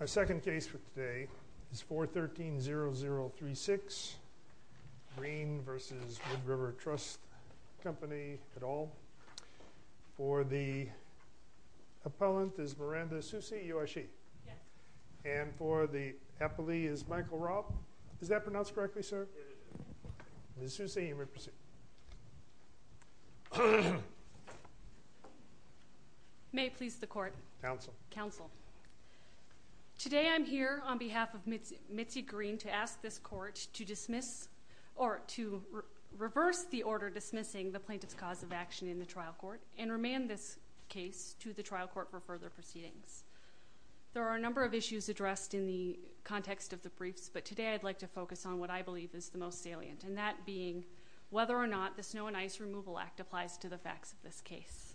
Our second case for today is 413-0036 Greene v. Wood River Trust Company et al. For the appellant is Miranda Susi, you are she. And for the appellee is Michael Robb. Is that pronounced correctly, sir? Ms. Susi, you may proceed. May it please the court. Counsel. Today I'm here on behalf of Mitzi Greene to ask this court to reverse the order dismissing the plaintiff's cause of action in the trial court and remand this case to the trial court for further proceedings. There are a number of issues addressed in the context of the briefs, but today I'd like to focus on what I believe is the most salient, and that being whether or not the Snow and Ice Removal Act applies to the facts of this case.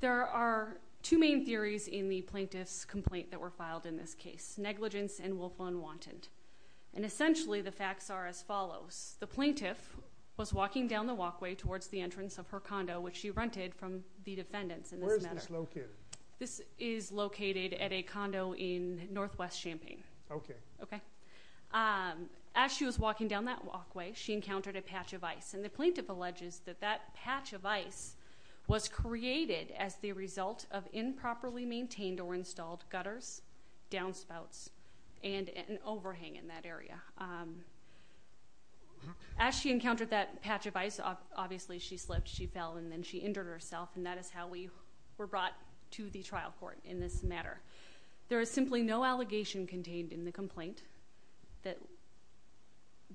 There are two main theories in the plaintiff's complaint that were filed in this case, negligence and willful unwanted. And essentially the facts are as follows. The plaintiff was walking down the walkway towards the entrance of her condo, which she rented from the defendants in this matter. Where is this located? This is located at a condo in Northwest Champaign. Okay. Okay. As she was walking down that walkway, she encountered a patch of ice. And the plaintiff alleges that that patch of ice was created as the result of improperly maintained or installed gutters, downspouts, and an overhang in that area. As she encountered that patch of ice, obviously she slipped, she fell, and then she injured herself, and that is how we were brought to the trial court in this matter. There is simply no allegation contained in the complaint that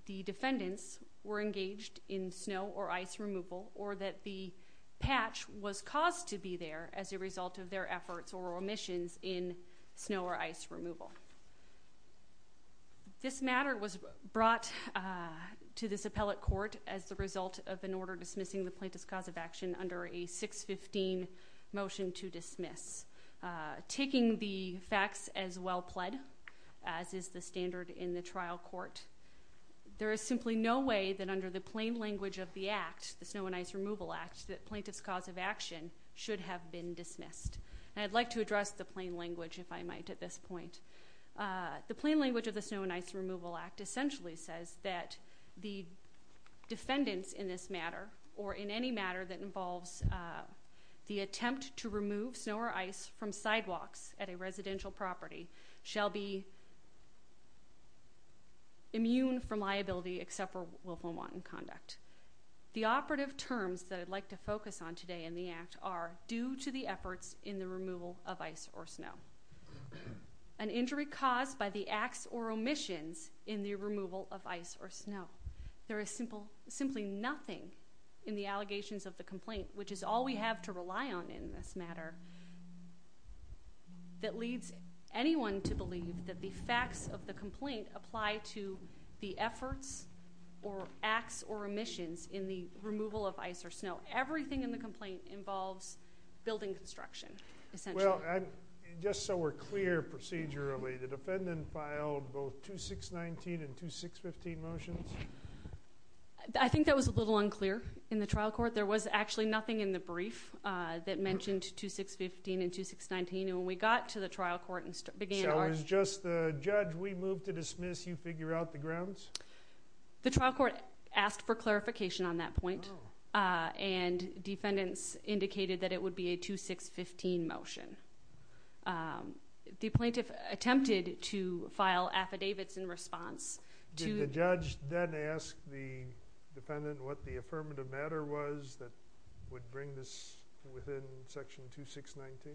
the defendants were engaged in snow or ice removal, or that the patch was caused to be there as a result of their efforts or omissions in snow or ice removal. This matter was brought to this appellate court as the result of an order dismissing the plaintiff's cause of action under a 615 motion to dismiss. Taking the facts as well pled, as is the standard in the trial court, there is simply no way that under the plain language of the act, the Snow and Ice Removal Act, that plaintiff's cause of action should have been dismissed. And I'd like to address the plain language, if I might, at this point. The plain language of the Snow and Ice Removal Act essentially says that the defendants in this matter, or in any matter that involves the attempt to remove snow or ice from sidewalks at a residential property, shall be immune from liability except for willful wanton conduct. The operative terms that I'd like to focus on today in the act are due to the efforts in the removal of ice or snow. An injury caused by the acts or omissions in the removal of ice or snow. There is simply nothing in the allegations of the complaint, which is all we have to rely on in this matter, that leads anyone to believe that the facts of the complaint apply to the efforts or acts or omissions in the removal of ice or snow. Everything in the complaint involves building construction, essentially. Well, just so we're clear, procedurally, the defendant filed both 2619 and 2615 motions? I think that was a little unclear in the trial court. There was actually nothing in the brief that mentioned 2615 and 2619. And when we got to the trial court and began our... So it was just the judge, we move to dismiss, you figure out the grounds? The trial court asked for clarification on that point. And defendants indicated that it would be a 2615 motion. The plaintiff attempted to file affidavits in response to... Did the judge then ask the defendant what the affirmative matter was that would bring this within section 2619?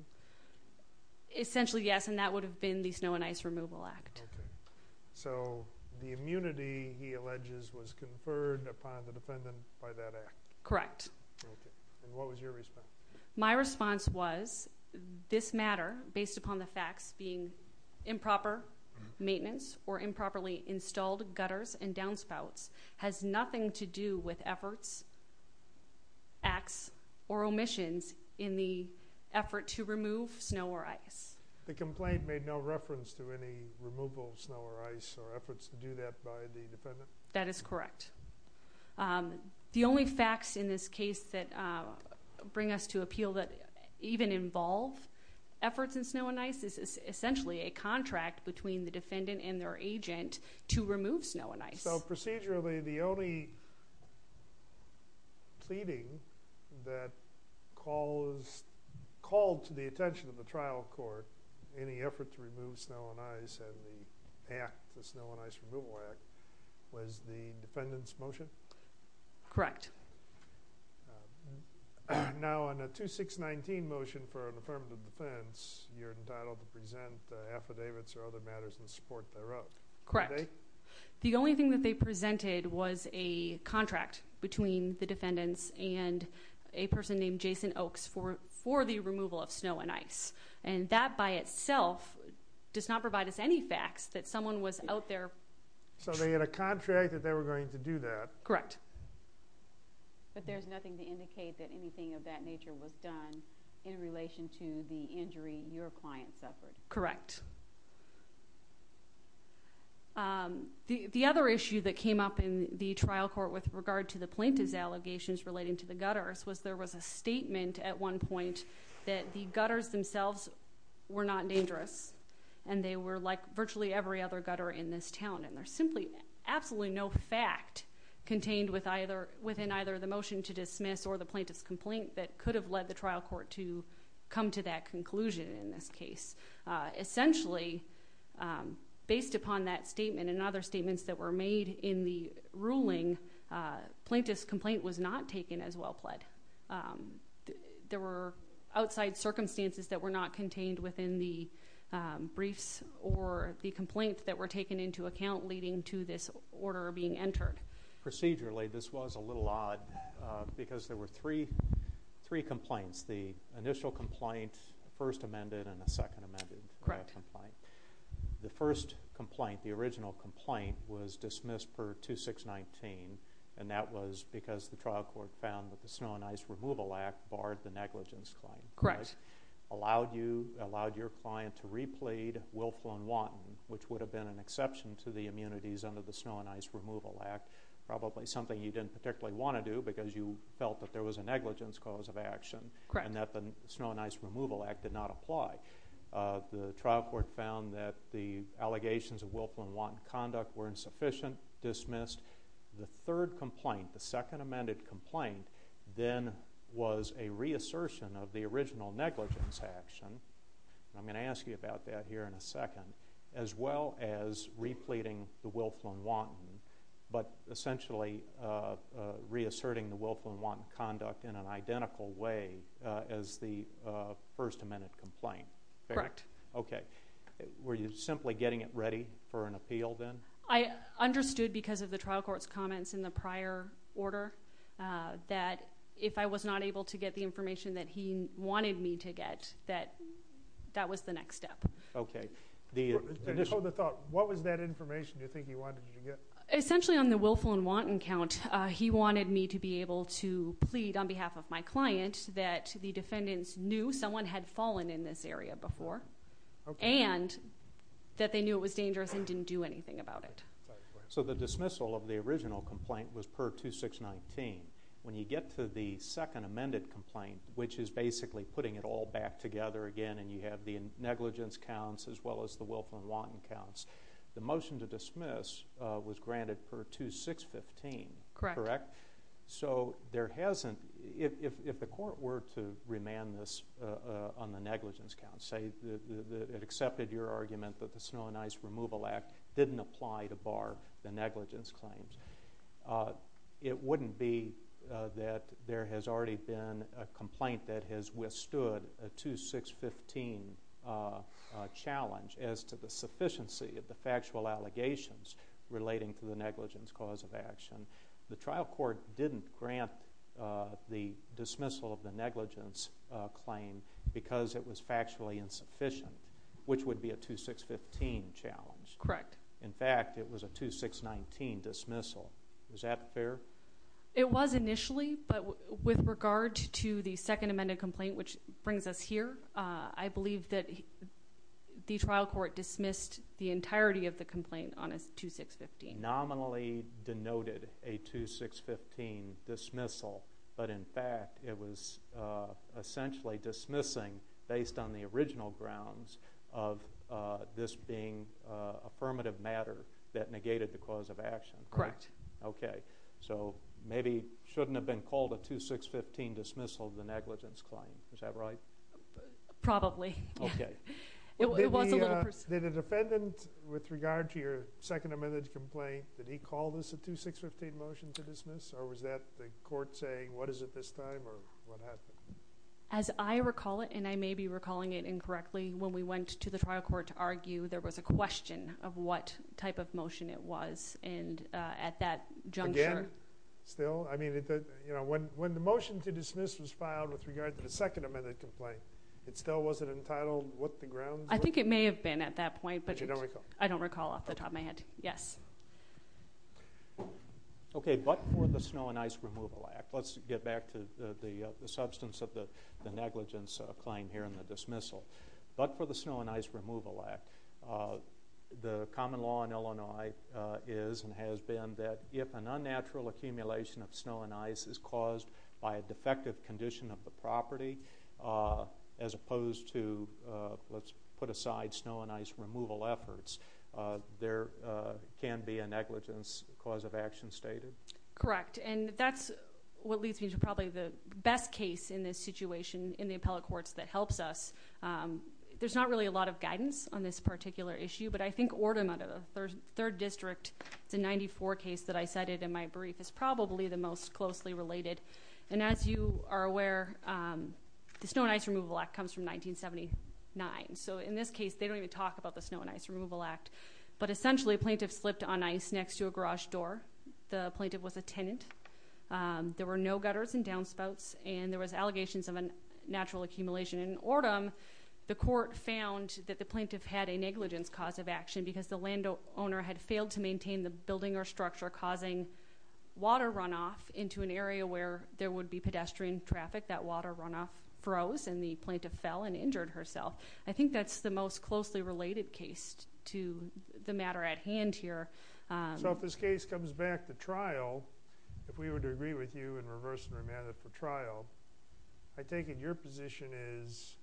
Essentially, yes. And that would have been the Snow and Ice Removal Act. Okay. So the immunity, he alleges, was conferred upon the defendant by that act? Correct. Okay. And what was your response? My response was this matter, based upon the facts being improper maintenance or improperly installed gutters and downspouts, has nothing to do with efforts, acts, or omissions in the effort to remove snow or ice. The complaint made no reference to any removal of snow or ice or efforts to do that by the case that bring us to appeal that even involve efforts in snow and ice is essentially a contract between the defendant and their agent to remove snow and ice. So procedurally, the only pleading that called to the attention of the trial court any effort to remove snow and ice and the act, the Snow and Ice Removal Act, was the defendant's motion? Correct. Now, on a 2619 motion for an affirmative defense, you're entitled to present affidavits or other matters in support thereof. Correct. The only thing that they presented was a contract between the defendants and a person named Jason Oakes for the removal of snow and ice. And that by itself does not provide us any facts that someone was out So they had a contract that they were going to do that? Correct. But there's nothing to indicate that anything of that nature was done in relation to the injury your client suffered? Correct. The other issue that came up in the trial court with regard to the plaintiff's allegations relating to the gutters was there was a statement at one point that the gutters themselves were not dangerous and they were like virtually every other gutter in this town. And there's simply absolutely no fact contained within either the motion to dismiss or the plaintiff's complaint that could have led the trial court to come to that conclusion in this case. Essentially, based upon that statement and other statements that were made in the ruling, plaintiff's complaint was not taken as well pled. There were outside circumstances that were not contained within the briefs or the complaints that were taken into account leading to this order being entered. Procedurally, this was a little odd because there were three complaints. The initial complaint, first amended and a second amended. Correct. The first complaint, the original complaint, was dismissed per 2619 and that was because the trial court found that the snow and ice removal act barred the negligence claim. Correct. Allowed your client to replead Wilflin-Wanton, which would have been an exception to the immunities under the snow and ice removal act, probably something you didn't particularly want to do because you felt that there was a negligence cause of action and that the snow and ice removal act did not apply. The trial court found that the allegations of Wilflin-Wanton conduct were insufficient, dismissed. The third complaint, the second amended complaint, then was a reassertion of the original negligence action. I'm going to ask you about that here in a second, as well as repleting the Wilflin-Wanton, but essentially reasserting the Wilflin-Wanton conduct in an identical way as the first amended complaint. Correct. Okay. Were you simply getting it ready for an appeal, then? I understood because of the trial court's comments in the prior order that if I was not able to get the information that he wanted me to get, that was the next step. Okay. What was that information you think he wanted you to get? Essentially on the Wilflin-Wanton count, he wanted me to be able to plead on behalf of my client that the defendants knew someone had fallen in this area before and that they knew it was dangerous and didn't do anything about it. So the dismissal of the original complaint was per 2619. When you get to the second amended complaint, which is basically putting it all back together again and you have the negligence counts as well as the Wilflin-Wanton counts, the motion to dismiss was granted per 2615, correct? Correct. So there hasn't, if the court were to remand this on the negligence counts, say it accepted your argument that the Snow and Ice Removal Act didn't apply to bar the negligence claims, it wouldn't be that there has already been a complaint that has withstood a 2615 challenge as to the sufficiency of the factual allegations relating to the negligence cause of action. The trial court didn't grant the dismissal of the negligence claim because it was factually insufficient, which would be a 2615 challenge. Correct. In fact, it was a 2619 dismissal. Is that fair? It was initially, but with regard to the second amended complaint, which brings us here, I believe that the trial court dismissed the entirety of the complaint on a 2615. Nominally denoted a 2615 dismissal, but in fact it was essentially dismissing based on the original grounds of this being affirmative matter that negated the cause of action. Correct. Okay. So maybe it shouldn't have been called a 2615 dismissal of the negligence claim. Is that right? Probably. Okay. It was a little... Did the defendant, with regard to your second amended complaint, did he call this a 2615 motion to dismiss, or was that the court saying, what is it this time, or what happened? As I recall it, and I may be recalling it incorrectly, when we went to the trial court to argue, there was a question of what type of motion it was, and at that juncture... Again? Still? I mean, when the motion to dismiss was filed with regard to the second amended complaint, it still wasn't entitled what the grounds were? I think it may have been at that point, but... But you don't recall? I don't recall off the top of my head. Yes. Okay. But for the Snow and Ice Removal Act, let's get back to the substance of the negligence claim here and the dismissal. But for the Snow and Ice Removal Act, the common law in Illinois is and has been that if an unnatural accumulation of snow and ice is caused by a defective condition of the property, as opposed to, let's put it aside, snow and ice removal efforts, there can be a negligence cause of action stated? Correct. And that's what leads me to probably the best case in this situation, in the appellate courts, that helps us. There's not really a lot of guidance on this particular issue, but I think Ordon, out of the 3rd District, it's a 94 case that I cited in my brief, is probably the most closely related. And as you are aware, the Snow and Ice Removal Act comes from 1979. So in this case, they don't even talk about the Snow and Ice Removal Act. But essentially, a plaintiff slipped on ice next to a garage door. The plaintiff was a tenant. There were no gutters and downspouts, and there was allegations of a natural accumulation. In Ordon, the court found that the plaintiff had a negligence cause of action because the landowner had failed to maintain the building or structure, causing water runoff into an and injured herself. I think that's the most closely related case to the matter at hand here. So if this case comes back to trial, if we were to agree with you and reverse and remand it for trial, I take it your position is,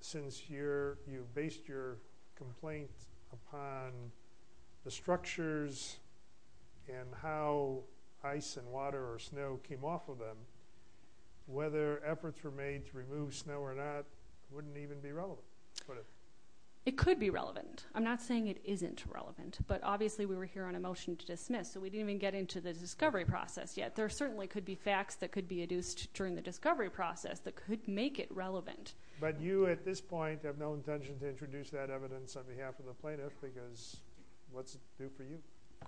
since you've based your complaint upon the structures and how ice and water or snow came off of them, whether efforts were made to remove snow or not wouldn't even be relevant? It could be relevant. I'm not saying it isn't relevant, but obviously we were here on a motion to dismiss, so we didn't even get into the discovery process yet. There certainly could be facts that could be adduced during the discovery process that could make it relevant. But you, at this point, have no intention to introduce that evidence on behalf of the plaintiff, because what's it do for you?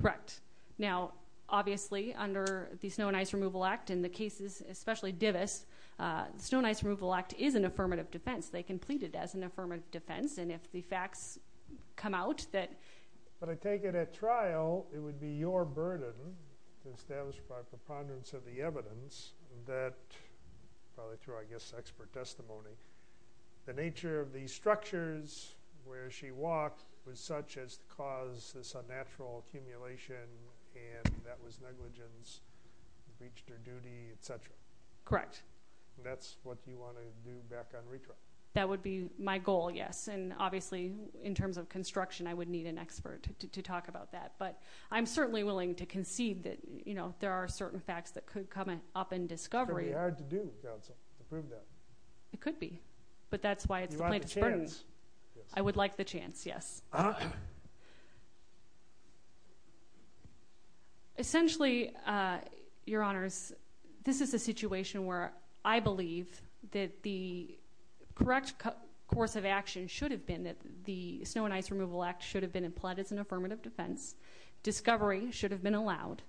Correct. Now, obviously, under the Snow and Ice Removal Act, in the cases, especially Divis, the Snow and Ice Removal Act is an affirmative defense. They can plead it as an affirmative defense, and if the facts come out that... But I take it at trial, it would be your burden to establish by preponderance of the evidence that, probably through, I guess, expert testimony, the nature of these structures where she walked was such as to cause this unnatural accumulation, and that was negligence, breached her duty, etc. Correct. And that's what you want to do back on retract? That would be my goal, yes. And obviously, in terms of construction, I would need an expert to talk about that. But I'm certainly willing to concede that there are certain facts that could come up in discovery. It's going to be hard to do, counsel, to prove that. It could be. But that's why it's the plaintiff's burden. You want the chance. Yes. Essentially, Your Honors, this is a situation where I believe that the correct course of action should have been that the Snow and Ice Removal Act should have been implied as an affirmative defense. Discovery should have been allowed.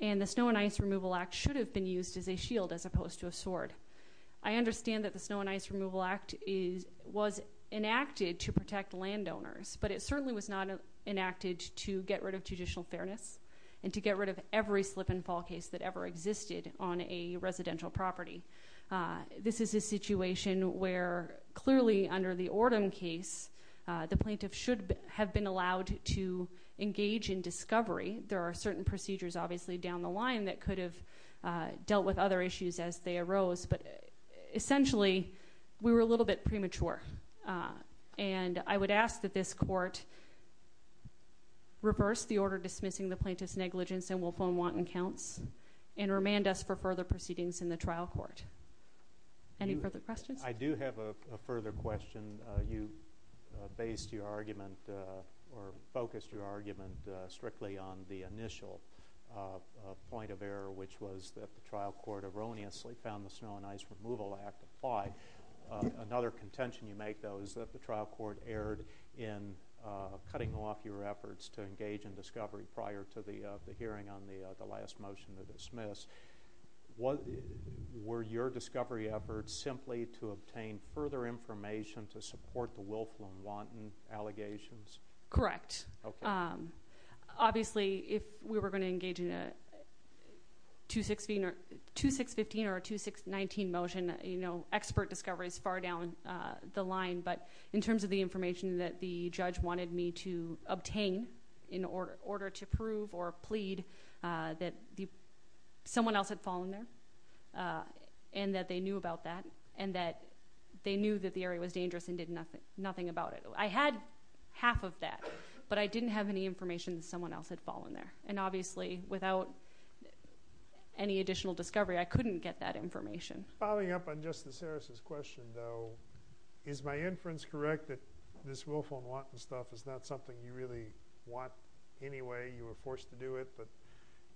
And the Snow and Ice Removal Act should have been used as a shield as opposed to a sword. I understand that the Snow and Ice Removal Act was enacted to protect landowners, but it certainly was not enacted to get rid of judicial fairness and to get rid of every slip-and-fall case that ever existed on a residential property. This is a situation where, clearly, under the Ordom case, the plaintiff should have been allowed to engage in discovery. There are certain procedures, obviously, down the line that could have dealt with other issues as they arose, but essentially, we were a little bit premature. And I would ask that this court reverse the order dismissing the plaintiff's negligence and will phone Wanton Counts and remand us for further proceedings in the trial court. Any further questions? I do have a further question. You based your argument or focused your argument strictly on the initial point of error, which was that the trial court erroneously found the Snow and Ice Removal Act apply. Another contention you make, though, is that the trial court erred in cutting off your efforts to engage in discovery prior to the hearing on the last motion to dismiss. Were your discovery efforts simply to obtain further information to support the Wilflue and Wanton allegations? Correct. Obviously, if we were going to engage in a 2-6-15 or a 2-6-19 motion, expert discovery is far down the line, but in terms of the information that the judge wanted me to obtain in order to prove or plead that someone else had fallen there and that they knew about that and that they knew that the area was dangerous and did nothing about it. I had half of that, but I didn't have any information that someone else had fallen there. Obviously, without any additional discovery, I couldn't get that information. Following up on Justice Harris's question, though, is my inference correct that this Wilflue and Wanton stuff is not something you really want anyway? You were forced to do it, but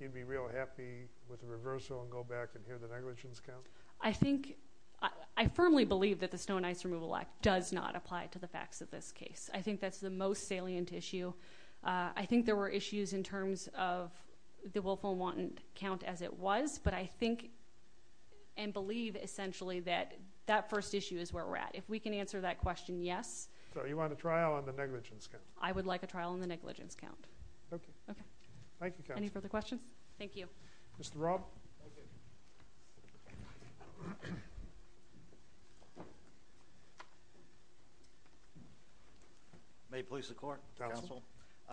you'd be real happy with a reversal and go back and hear the negligence count? I firmly believe that the Snow and Ice Removal Act does not apply to the facts of this case. I think that's the most salient issue. I think there were issues in terms of the Wilflue and Wanton count as it was, but I think and believe essentially that that first issue is where we're at. If we can answer that question, yes. So you want a trial on the negligence count? I would like a trial on the negligence count. Okay. Thank you, counsel. Any further questions? Thank you. Mr. Robb? Okay. May it please the court, counsel?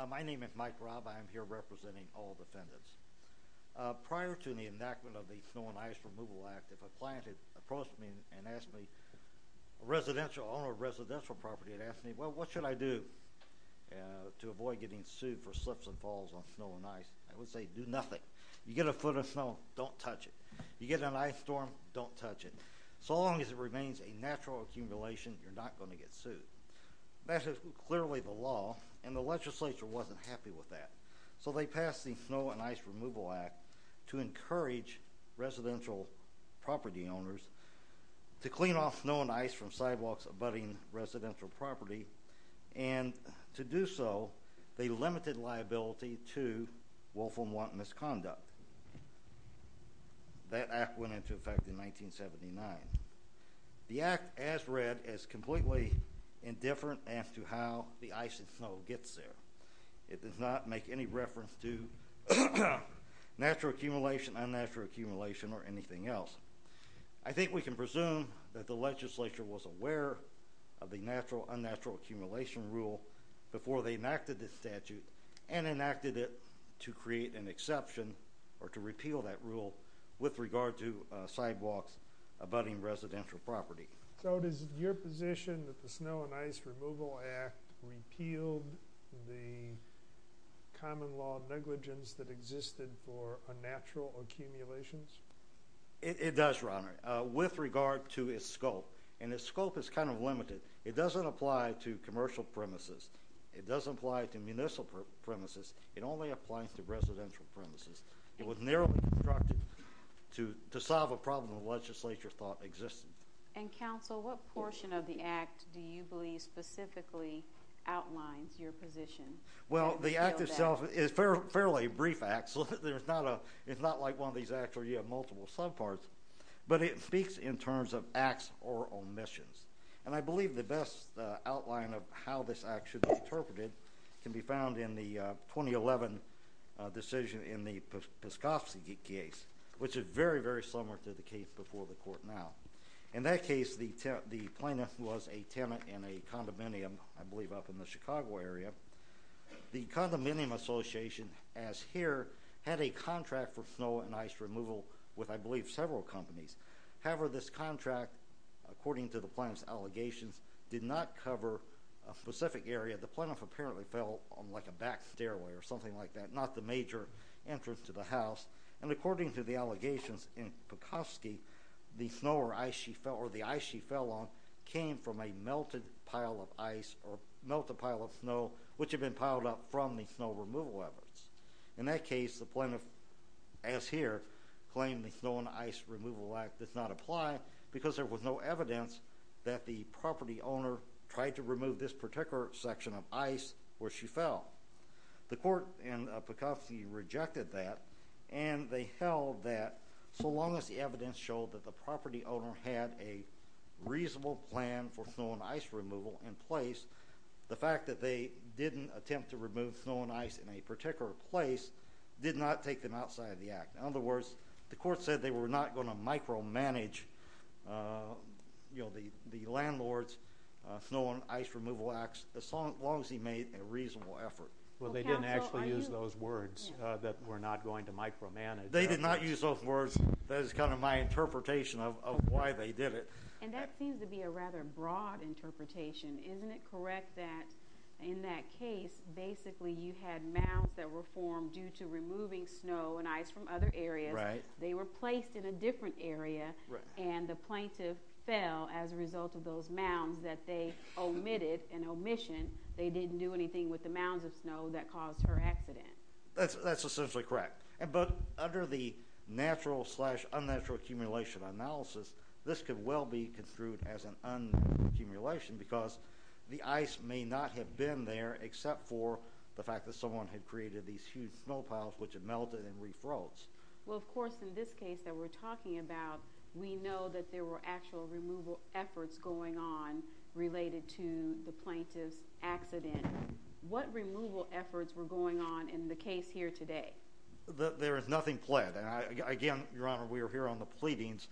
My name is Mike Robb. I am here representing all defendants. Prior to the enactment of the Snow and Ice Removal Act, if a client had approached me and asked me, on a residential property, and asked me, well, what should I do to avoid getting sued for slips and falls on snow and ice, I would say do nothing. You get a foot in snow, don't touch it. You get in an ice storm, don't touch it. So long as it remains a natural accumulation, you're not going to get sued. That is clearly the law, and the legislature wasn't happy with that. So they passed the Snow and Ice Removal Act to encourage residential property owners to clean off snow and ice from sidewalks abutting residential property, and to do so, they limited liability to willful and wanton misconduct. That act went into effect in 1979. The act, as read, is completely indifferent as to how the ice and snow gets there. It does not make any reference to natural accumulation, unnatural accumulation, or anything else. I think we can presume that the legislature was aware of the natural-unnatural accumulation rule before they enacted this statute, and enacted it to create an exception, or to repeal that rule with regard to sidewalks abutting residential property. So is it your position that the Snow and Ice Removal Act repealed the common law negligence that existed for unnatural accumulations? It does, Your Honor, with regard to its scope. And its scope is kind of limited. It doesn't apply to commercial premises. It doesn't apply to municipal premises. It only applies to residential premises. It was narrowly constructed to solve a problem the legislature thought existed. And, Counsel, what portion of the act do you believe specifically outlines your position? Well, the act itself is fairly brief. It's not like one of these acts where you have multiple subparts. But it speaks in terms of acts or omissions. And I believe the best outline of how this act should be interpreted can be found in the 2011 decision in the Piskofsky case, which is very, very similar to the case before the Court now. In that case, the plaintiff was a tenant in a condominium, I believe, up in the Chicago area. The condominium association, as here, had a contract for snow and ice removal with, I believe, several companies. However, this contract, according to the plaintiff's allegations, did not cover a specific area. The plaintiff apparently fell on like a back stairway or something like that, not the major entrance to the house. And according to the allegations in Piskofsky, the snow or ice she fell on came from a melted pile of ice or melted pile of snow which had been piled up from the snow removal efforts. In that case, the plaintiff, as here, claimed the Snow and Ice Removal Act does not apply because there was no evidence that the property owner tried to remove this particular section of ice where she fell. The court in Piskofsky rejected that, and they held that so long as the evidence showed that the property owner had a reasonable plan for snow and ice removal in place, the fact that they didn't attempt to remove snow and ice in a particular place did not take them outside of the act. In other words, the court said they were not going to micromanage the landlord's Snow and Ice Removal Act as long as he made a reasonable effort. Well, they didn't actually use those words, that we're not going to micromanage. They did not use those words. That is kind of my interpretation of why they did it. And that seems to be a rather broad interpretation. Isn't it correct that in that case, basically, you had mounds that were formed due to removing snow and ice from other areas. They were placed in a different area, and the plaintiff fell as a result of those mounds that they omitted, an omission. They didn't do anything with the mounds of snow that caused her accident. That's essentially correct. But under the natural-slash-unnatural accumulation analysis, this could well be construed as an unaccumulation because the ice may not have been there except for the fact that someone had created these huge snow piles which had melted and refroze. Well, of course, in this case that we're talking about, we know that there were actual removal efforts going on related to the plaintiff's accident. What removal efforts were going on in the case here today? There is nothing pled. Again, Your Honor, we are here on the pleadings.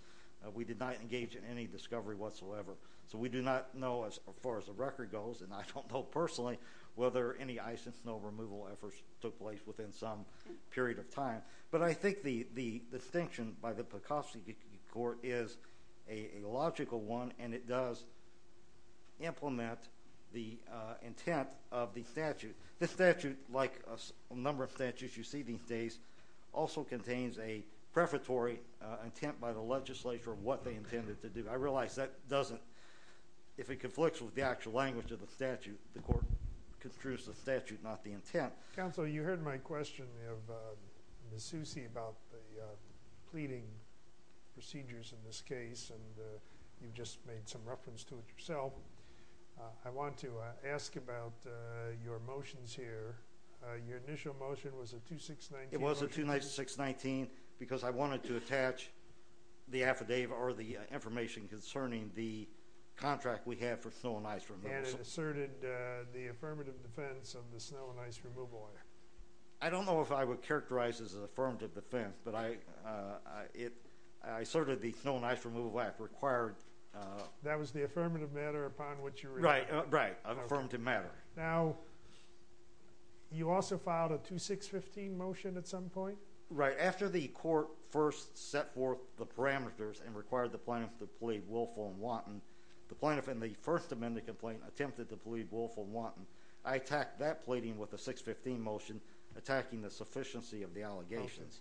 We did not engage in any discovery whatsoever. So we do not know, as far as the record goes, and I don't know personally whether any ice and snow removal efforts took place within some period of time. But I think the distinction by the Pecosi court is a logical one, and it does implement the intent of the statute. The statute, like a number of statutes you see these days, also contains a prefatory intent by the legislature of what they intended to do. I realize that doesn't, if it conflicts with the actual language of the statute, the court construes the statute, not the intent. Counsel, you heard my question of Ms. Susi about the pleading procedures in this case, and you just made some reference to it yourself. I want to ask about your motions here. Your initial motion was a 2-6-19 motion. It was a 2-6-19 because I wanted to attach the affidavit or the information concerning the contract we have for snow and ice removal. And it asserted the affirmative defense of the Snow and Ice Removal Act. I don't know if I would characterize it as an affirmative defense, but I asserted the Snow and Ice Removal Act required. That was the affirmative matter upon which you relied. Right, affirmative matter. Now, you also filed a 2-6-15 motion at some point? Right. After the court first set forth the parameters and required the plaintiff to plead willful and wanton, the plaintiff in the First Amendment complaint attempted to plead willful and wanton. I attacked that pleading with a 6-15 motion, attacking the sufficiency of the allegations.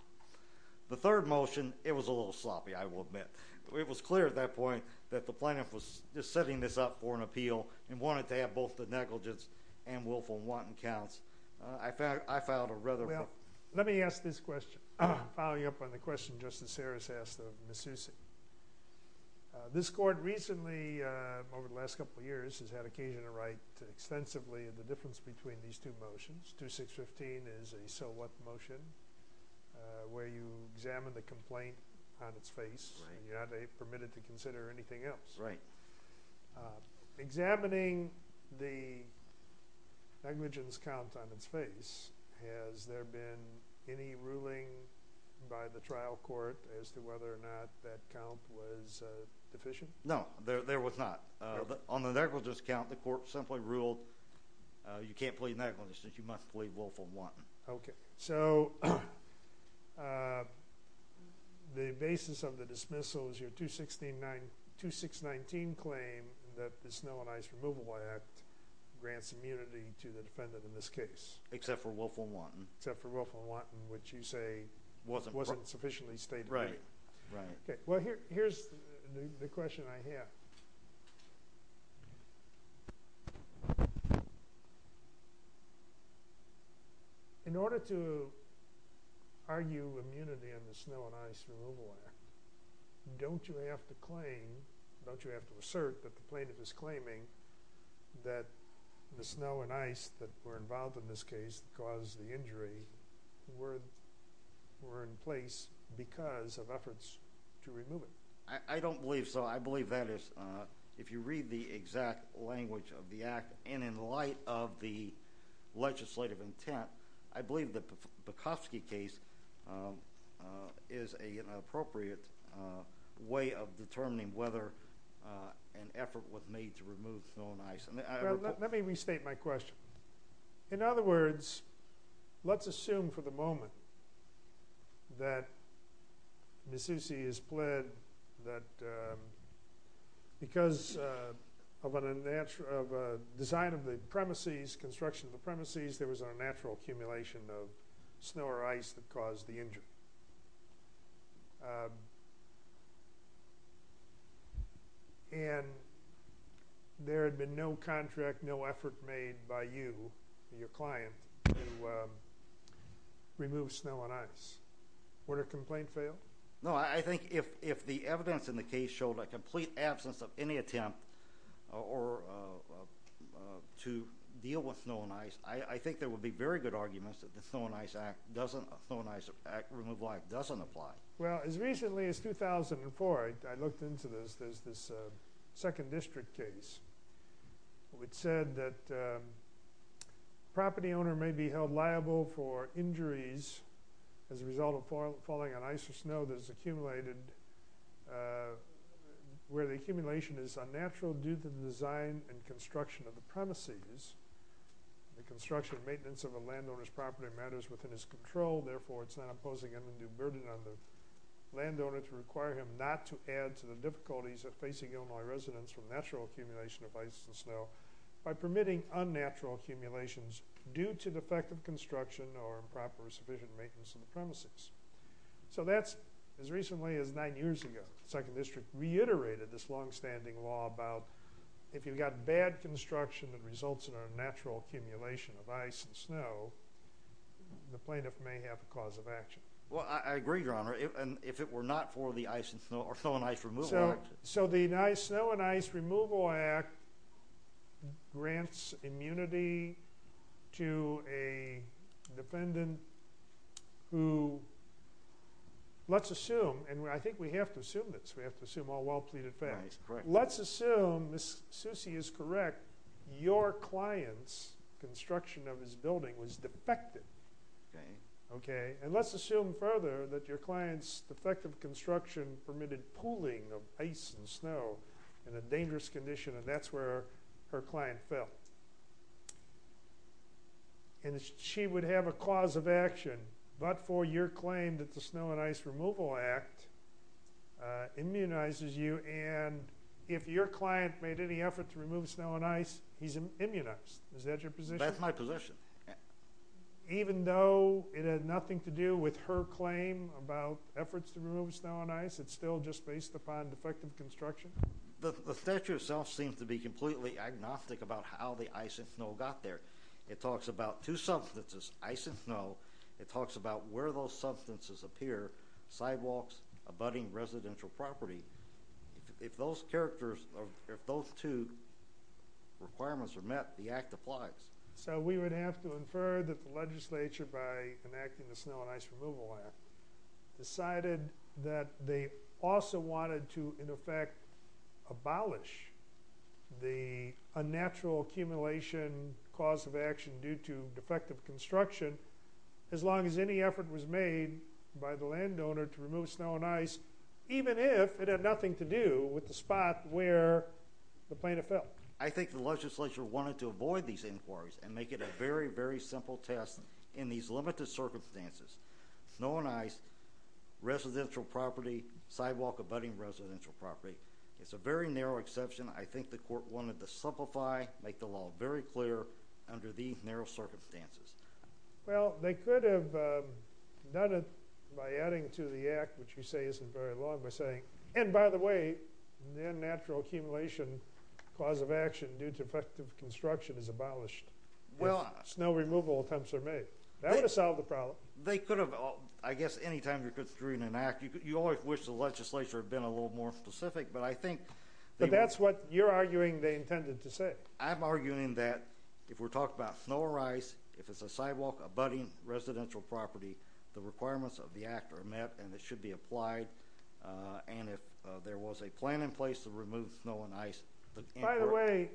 The third motion, it was a little sloppy, I will admit. It was clear at that point that the plaintiff was just setting this up for an appeal and wanted to have both the negligence and willful and wanton counts. I filed a rather— Well, let me ask this question, following up on the question Justice Sarris asked of Ms. Susi. This court recently, over the last couple of years, has had occasion to write extensively of the difference between these two motions. 2-6-15 is a so what motion where you examine the complaint on its face and you're not permitted to consider anything else. Right. Examining the negligence count on its face, has there been any ruling by the trial court as to whether or not that count was deficient? No, there was not. On the negligence count, the court simply ruled you can't plead negligence since you must plead willful and wanton. Okay. So, the basis of the dismissal is your 2-6-19 claim that the Snow and Ice Removal Act grants immunity to the defendant in this case. Except for willful and wanton. Except for willful and wanton, which you say wasn't sufficiently stated. Right. Well, here's the question I have. In order to argue immunity in the Snow and Ice Removal Act, don't you have to claim, don't you have to assert that the plaintiff is claiming that the snow and ice that were involved in this case caused the injury were in place because of efforts to remove it? I don't believe so. I believe that is, if you read the exact language of the act, and in light of the legislative intent, I believe the Bukowski case is an appropriate way of determining whether an effort was made to remove snow and ice. Let me restate my question. In other words, let's assume for the moment that Misussi is pled that because of a design of the premises, construction of the premises, there was a natural accumulation of snow or ice that caused the injury. And there had been no contract, no effort made by you, your client, to remove snow and ice. Would a complaint fail? No. I think if the evidence in the case showed a complete absence of any attempt to deal with snow and ice, I think there would be very good arguments that the Snow and Ice Act doesn't apply. Well, as recently as 2004, I looked into this. There's this second district case which said that property owner may be held liable for injuries as a result of falling on ice or snow that has accumulated where the accumulation is unnatural due to the design and construction of the premises. The construction and maintenance of a landowner's property matters within his control. Therefore, it's not imposing him a new burden on the landowner to require him not to add to the difficulties of facing Illinois residents from natural accumulation of ice and snow by permitting unnatural accumulations due to defective construction or improper or sufficient maintenance of the premises. So that's as recently as nine years ago. The second district reiterated this longstanding law about if you've got bad construction that results in a natural accumulation of ice and snow, the plaintiff may have a cause of action. Well, I agree, Your Honor. If it were not for the Snow and Ice Removal Act. So the Snow and Ice Removal Act grants immunity to a defendant who, let's assume, and I think we have to assume this. We have to assume all well-pleaded facts. Let's assume, Ms. Susi is correct, your client's construction of his building was defective. And let's assume further that your client's defective construction permitted pooling of ice and snow in a dangerous condition, and that's where her client fell. And she would have a cause of action but for your claim that the And if your client made any effort to remove snow and ice, he's immunized. Is that your position? That's my position. Even though it had nothing to do with her claim about efforts to remove snow and ice, it's still just based upon defective construction? The statute itself seems to be completely agnostic about how the ice and snow got there. It talks about two substances, ice and snow. It talks about where those substances appear, sidewalks, abutting residential property. If those characters, if those two requirements are met, the act applies. So we would have to infer that the legislature, by enacting the Snow and Ice Removal Act, decided that they also wanted to, in effect, abolish the unnatural accumulation cause of action due to defective construction as long as any effort was made by the landowner to remove snow and ice, even if it had nothing to do with the spot where the plaintiff fell. I think the legislature wanted to avoid these inquiries and make it a very, very simple test in these limited circumstances. Snow and ice, residential property, sidewalk abutting residential property. It's a very narrow exception. I think the court wanted to simplify, make the law very clear under these narrow circumstances. Well, they could have done it by adding to the act, which you say isn't very long, by saying, and by the way, the unnatural accumulation cause of action due to defective construction is abolished if snow removal attempts are made. That would have solved the problem. They could have. I guess any time you're considering an act, you always wish the legislature had been a little more specific. But I think that's what you're arguing they intended to say. I'm arguing that if we're talking about snow or ice, if it's a sidewalk abutting residential property, the requirements of the act are met and it should be applied. And if there was a plan in place to remove snow and ice. By the way,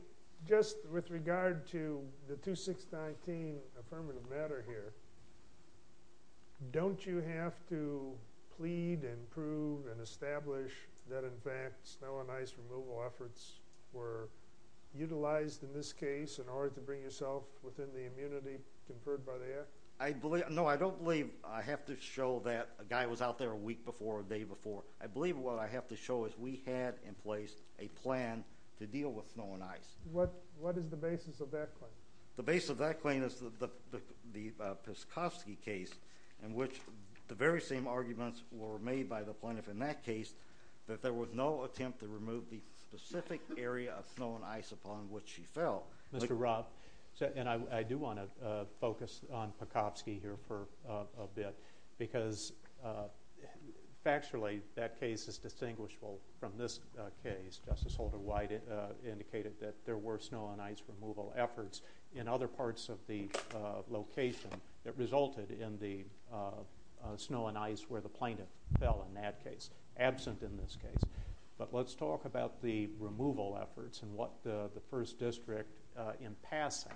just with regard to the 2619 affirmative matter here, don't you have to plead and prove and establish that in fact, snow and ice removal efforts were utilized in this case in order to bring yourself within the immunity conferred by the act? I believe, no, I don't believe. I have to show that a guy was out there a week before a day before. I believe what I have to show is we had in place a plan to deal with snow and ice. What is the basis of that claim? The base of that claim is the, the, the, the Peskovsky case in which the very same arguments were made by the plaintiff in that case, that there was no attempt to remove the specific area of snow and ice upon which he fell. Mr. Rob. So, and I, I do want to focus on Peskovsky here for a bit because factually that case is distinguishable from this case. Justice Holder White indicated that there were snow and ice removal efforts in other parts of the location that resulted in the snow and ice where the plaintiff fell in that case absent in this case. But let's talk about the removal efforts and what the, the first district in passing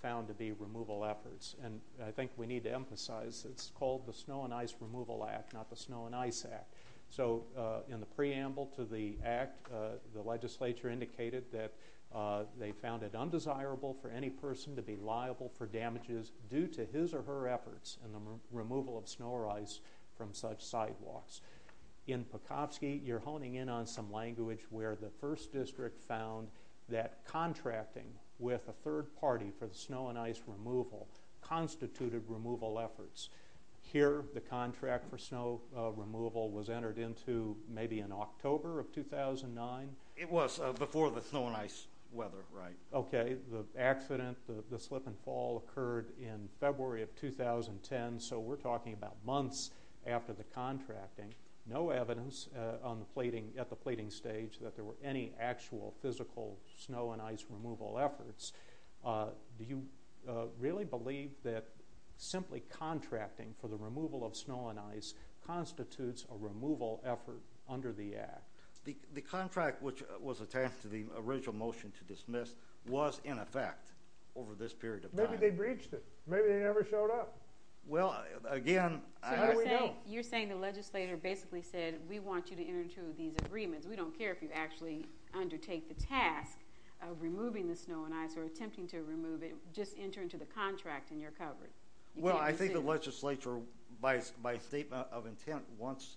found to be removal efforts. And I think we need to emphasize it's called the snow and ice removal act, not the snow and ice act. So in the preamble to the act the legislature indicated that they found it undesirable for any person to be liable for damages due to his or her efforts in the removal of snow or ice from such sidewalks. In Peskovsky you're honing in on some language where the first district found that contracting with a third party for the snow and ice removal constituted removal efforts. Here the contract for snow removal was entered into maybe in October of 2009? It was before the snow and ice weather, right. Okay. The accident, the slip and fall occurred in February of 2010. So we're talking about months after the contracting, no evidence on the plating at the plating stage that there were any actual physical snow and ice removal efforts. Do you really believe that simply contracting for the removal of snow and ice constitutes a removal effort under the act? The contract which was attached to the original motion to dismiss was in effect over this period of time. Maybe they breached it. Maybe they never showed up. Well, again, I don't know. So you're saying the legislator basically said, we want you to enter into these agreements. We don't care if you actually undertake the task of removing the snow and ice or attempting to remove it. Just enter into the contract and you're covered. Well, I think the legislature, by statement of intent, wants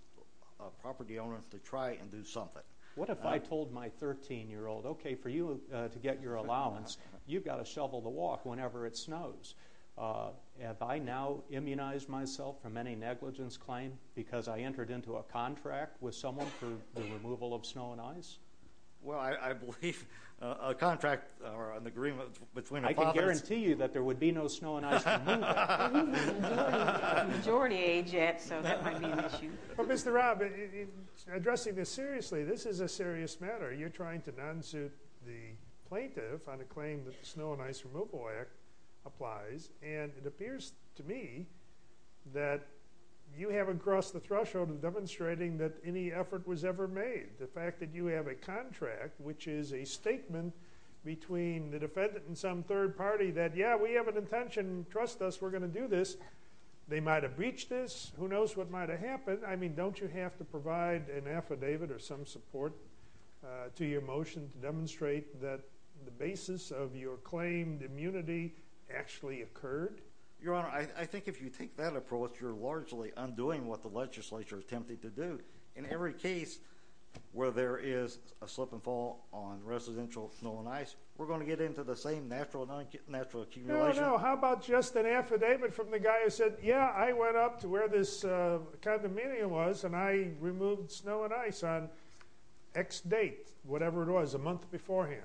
property owners to try and do something. What if I told my 13-year-old, okay, for you to get your allowance, you've got to shovel the walk whenever it snows. Have I now immunized myself from any negligence claim because I entered into a contract with someone for the removal of snow and ice? Well, I believe a contract or an agreement between a prophet. I can guarantee you that there would be no snow and ice removal. We're in the majority age yet, so that might be an issue. Well, Mr. Rob, addressing this seriously, this is a serious matter. You're trying to non-suit the plaintiff on a claim that the snow and ice removal act applies, and it appears to me that you haven't crossed the threshold of demonstrating that any effort was ever made. The fact that you have a contract, which is a statement between the defendant and some third party that, yeah, we have an intention. Trust us, we're going to do this. They might have breached this. Who knows what might have happened. I mean, don't you have to provide an affidavit or some support to your claim immunity actually occurred? Your Honor, I think if you take that approach, you're largely undoing what the legislature attempted to do. In every case where there is a slip and fall on residential snow and ice, we're going to get into the same natural accumulation. No, no. How about just an affidavit from the guy who said, yeah, I went up to where this condominium was, and I removed snow and ice on X date, whatever it was, a month beforehand.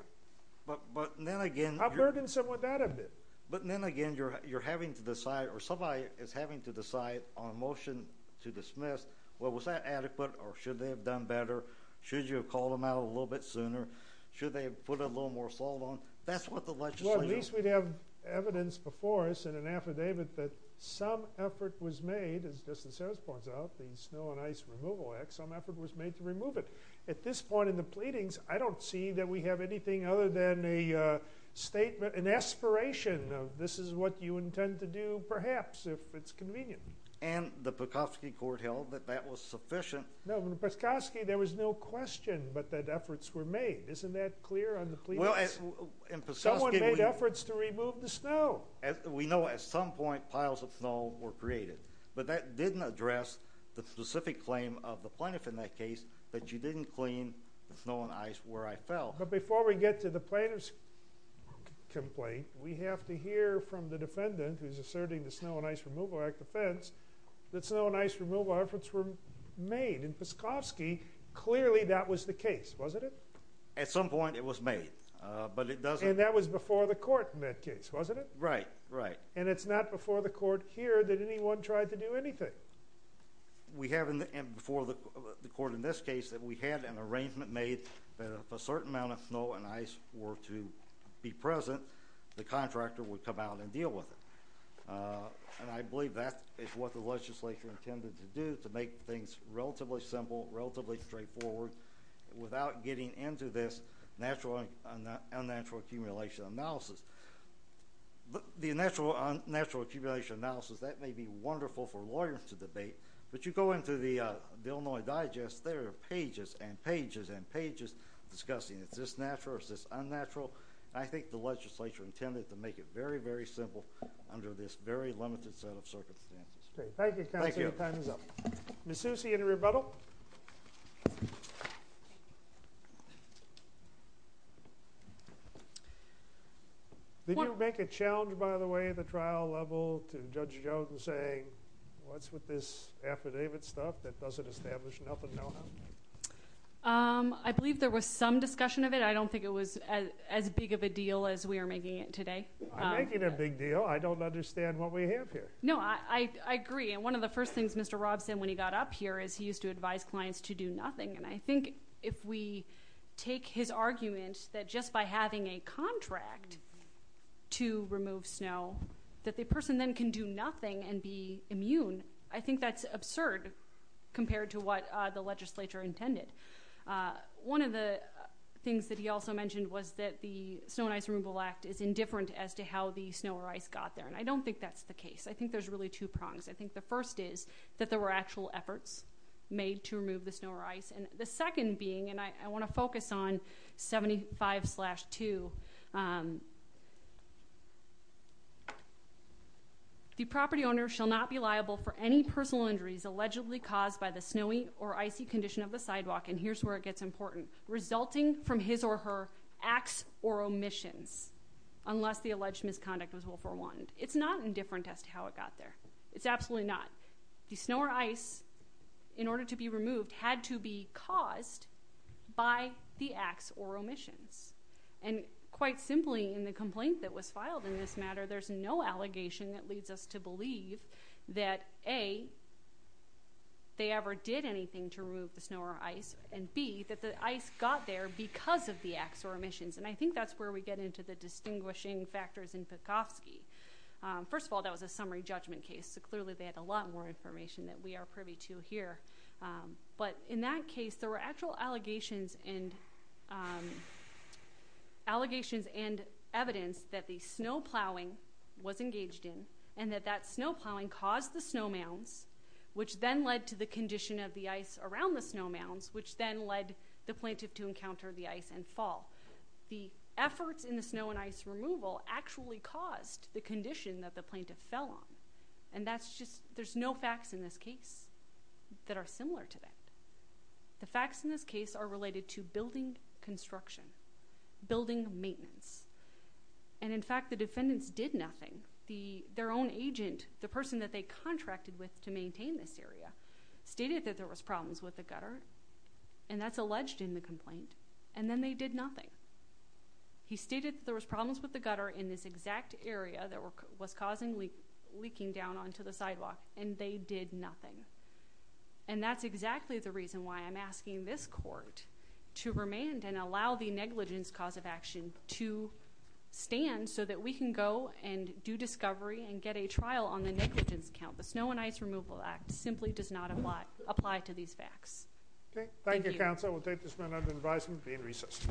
I've heard him say that a bit. But then again, you're having to decide, or somebody is having to decide on a motion to dismiss, well, was that adequate or should they have done better? Should you have called them out a little bit sooner? Should they have put a little more salt on? That's what the legislature- Well, at least we'd have evidence before us in an affidavit that some effort was made, as Justice Harris points out, the Snow and Ice Removal Act, some effort was made to remove it. At this point in the pleadings, I don't see that we have anything other than a statement, an aspiration of this is what you intend to do, perhaps, if it's convenient. And the Peskoski court held that that was sufficient. No, in Peskoski, there was no question but that efforts were made. Isn't that clear on the pleadings? Well, in Peskoski- Someone made efforts to remove the snow. We know at some point piles of snow were created. But that didn't address the specific claim of the plaintiff in that case, that you didn't clean the snow and ice where I fell. But before we get to the plaintiff's complaint, we have to hear from the defendant, who's asserting the Snow and Ice Removal Act defense, that snow and ice removal efforts were made. In Peskoski, clearly that was the case, wasn't it? At some point, it was made, but it doesn't- And that was before the court in that case, wasn't it? Right, right. And it's not before the court here that anyone tried to do anything. We have before the court in this case that we had an arrangement made that if a certain amount of snow and ice were to be present, the contractor would come out and deal with it. And I believe that is what the legislature intended to do to make things relatively simple, relatively straightforward, without getting into this unnatural accumulation analysis. The unnatural accumulation analysis, that may be wonderful for lawyers to debate, but you go into the Illinois Digest, there are pages and pages and pages discussing, is this natural, is this unnatural? I think the legislature intended to make it very, very simple under this very limited set of circumstances. Thank you, counsel. Your time is up. Ms. Susi, any rebuttal? Did you make a challenge, by the way, at the trial level to Judge Jones in saying, what's with this affidavit stuff that doesn't establish nothing? I believe there was some discussion of it. I don't think it was as big of a deal as we are making it today. I'm making a big deal. I don't understand what we have here. No, I agree. And one of the first things Mr. Rob said when he got up here is he used to advise me, and I think if we take his argument that just by having a contract to remove snow that the person then can do nothing and be immune, I think that's absurd compared to what the legislature intended. One of the things that he also mentioned was that the Snow and Ice Removal Act is indifferent as to how the snow or ice got there, and I don't think that's the case. I think there's really two prongs. I think the first is that there were actual efforts made to remove the snow or ice, and the second being, and I want to focus on 75-2, the property owner shall not be liable for any personal injuries allegedly caused by the snowy or icy condition of the sidewalk, and here's where it gets important, resulting from his or her acts or omissions, unless the alleged misconduct was well forewarned. It's not indifferent as to how it got there. It's absolutely not. The snow or ice, in order to be removed, had to be caused by the acts or omissions, and quite simply in the complaint that was filed in this matter, there's no allegation that leads us to believe that, A, they ever did anything to remove the snow or ice, and, B, that the ice got there because of the acts or omissions, and I think that's where we get into the distinguishing factors in Petkovsky. First of all, that was a summary judgment case, so clearly they had a lot more information that we are privy to here, but in that case, there were actual allegations and evidence that the snow plowing was engaged in, and that that snow plowing caused the snow mounds, which then led to the condition of the ice around the snow mounds, which then led the plaintiff to encounter the ice and fall. The efforts in the snow and ice removal actually caused the condition that the plaintiff fell on, and that's just, there's no facts in this case that are similar to that. The facts in this case are related to building construction, building maintenance, and in fact, the defendants did nothing. Their own agent, the person that they contracted with to maintain this area, stated that there was problems with the gutter, and that's alleged in the complaint, and then they did nothing. He stated that there was problems with the gutter in this exact area that was causing leaking down onto the sidewalk, and they did nothing, and that's exactly the reason why I'm asking this court to remand and allow the negligence cause of action to stand so that we can go and do discovery and get a trial on the negligence count. The Snow and Ice Removal Act simply does not apply to these facts. Okay, thank you, counsel. We'll take this matter under advisement and be in recess.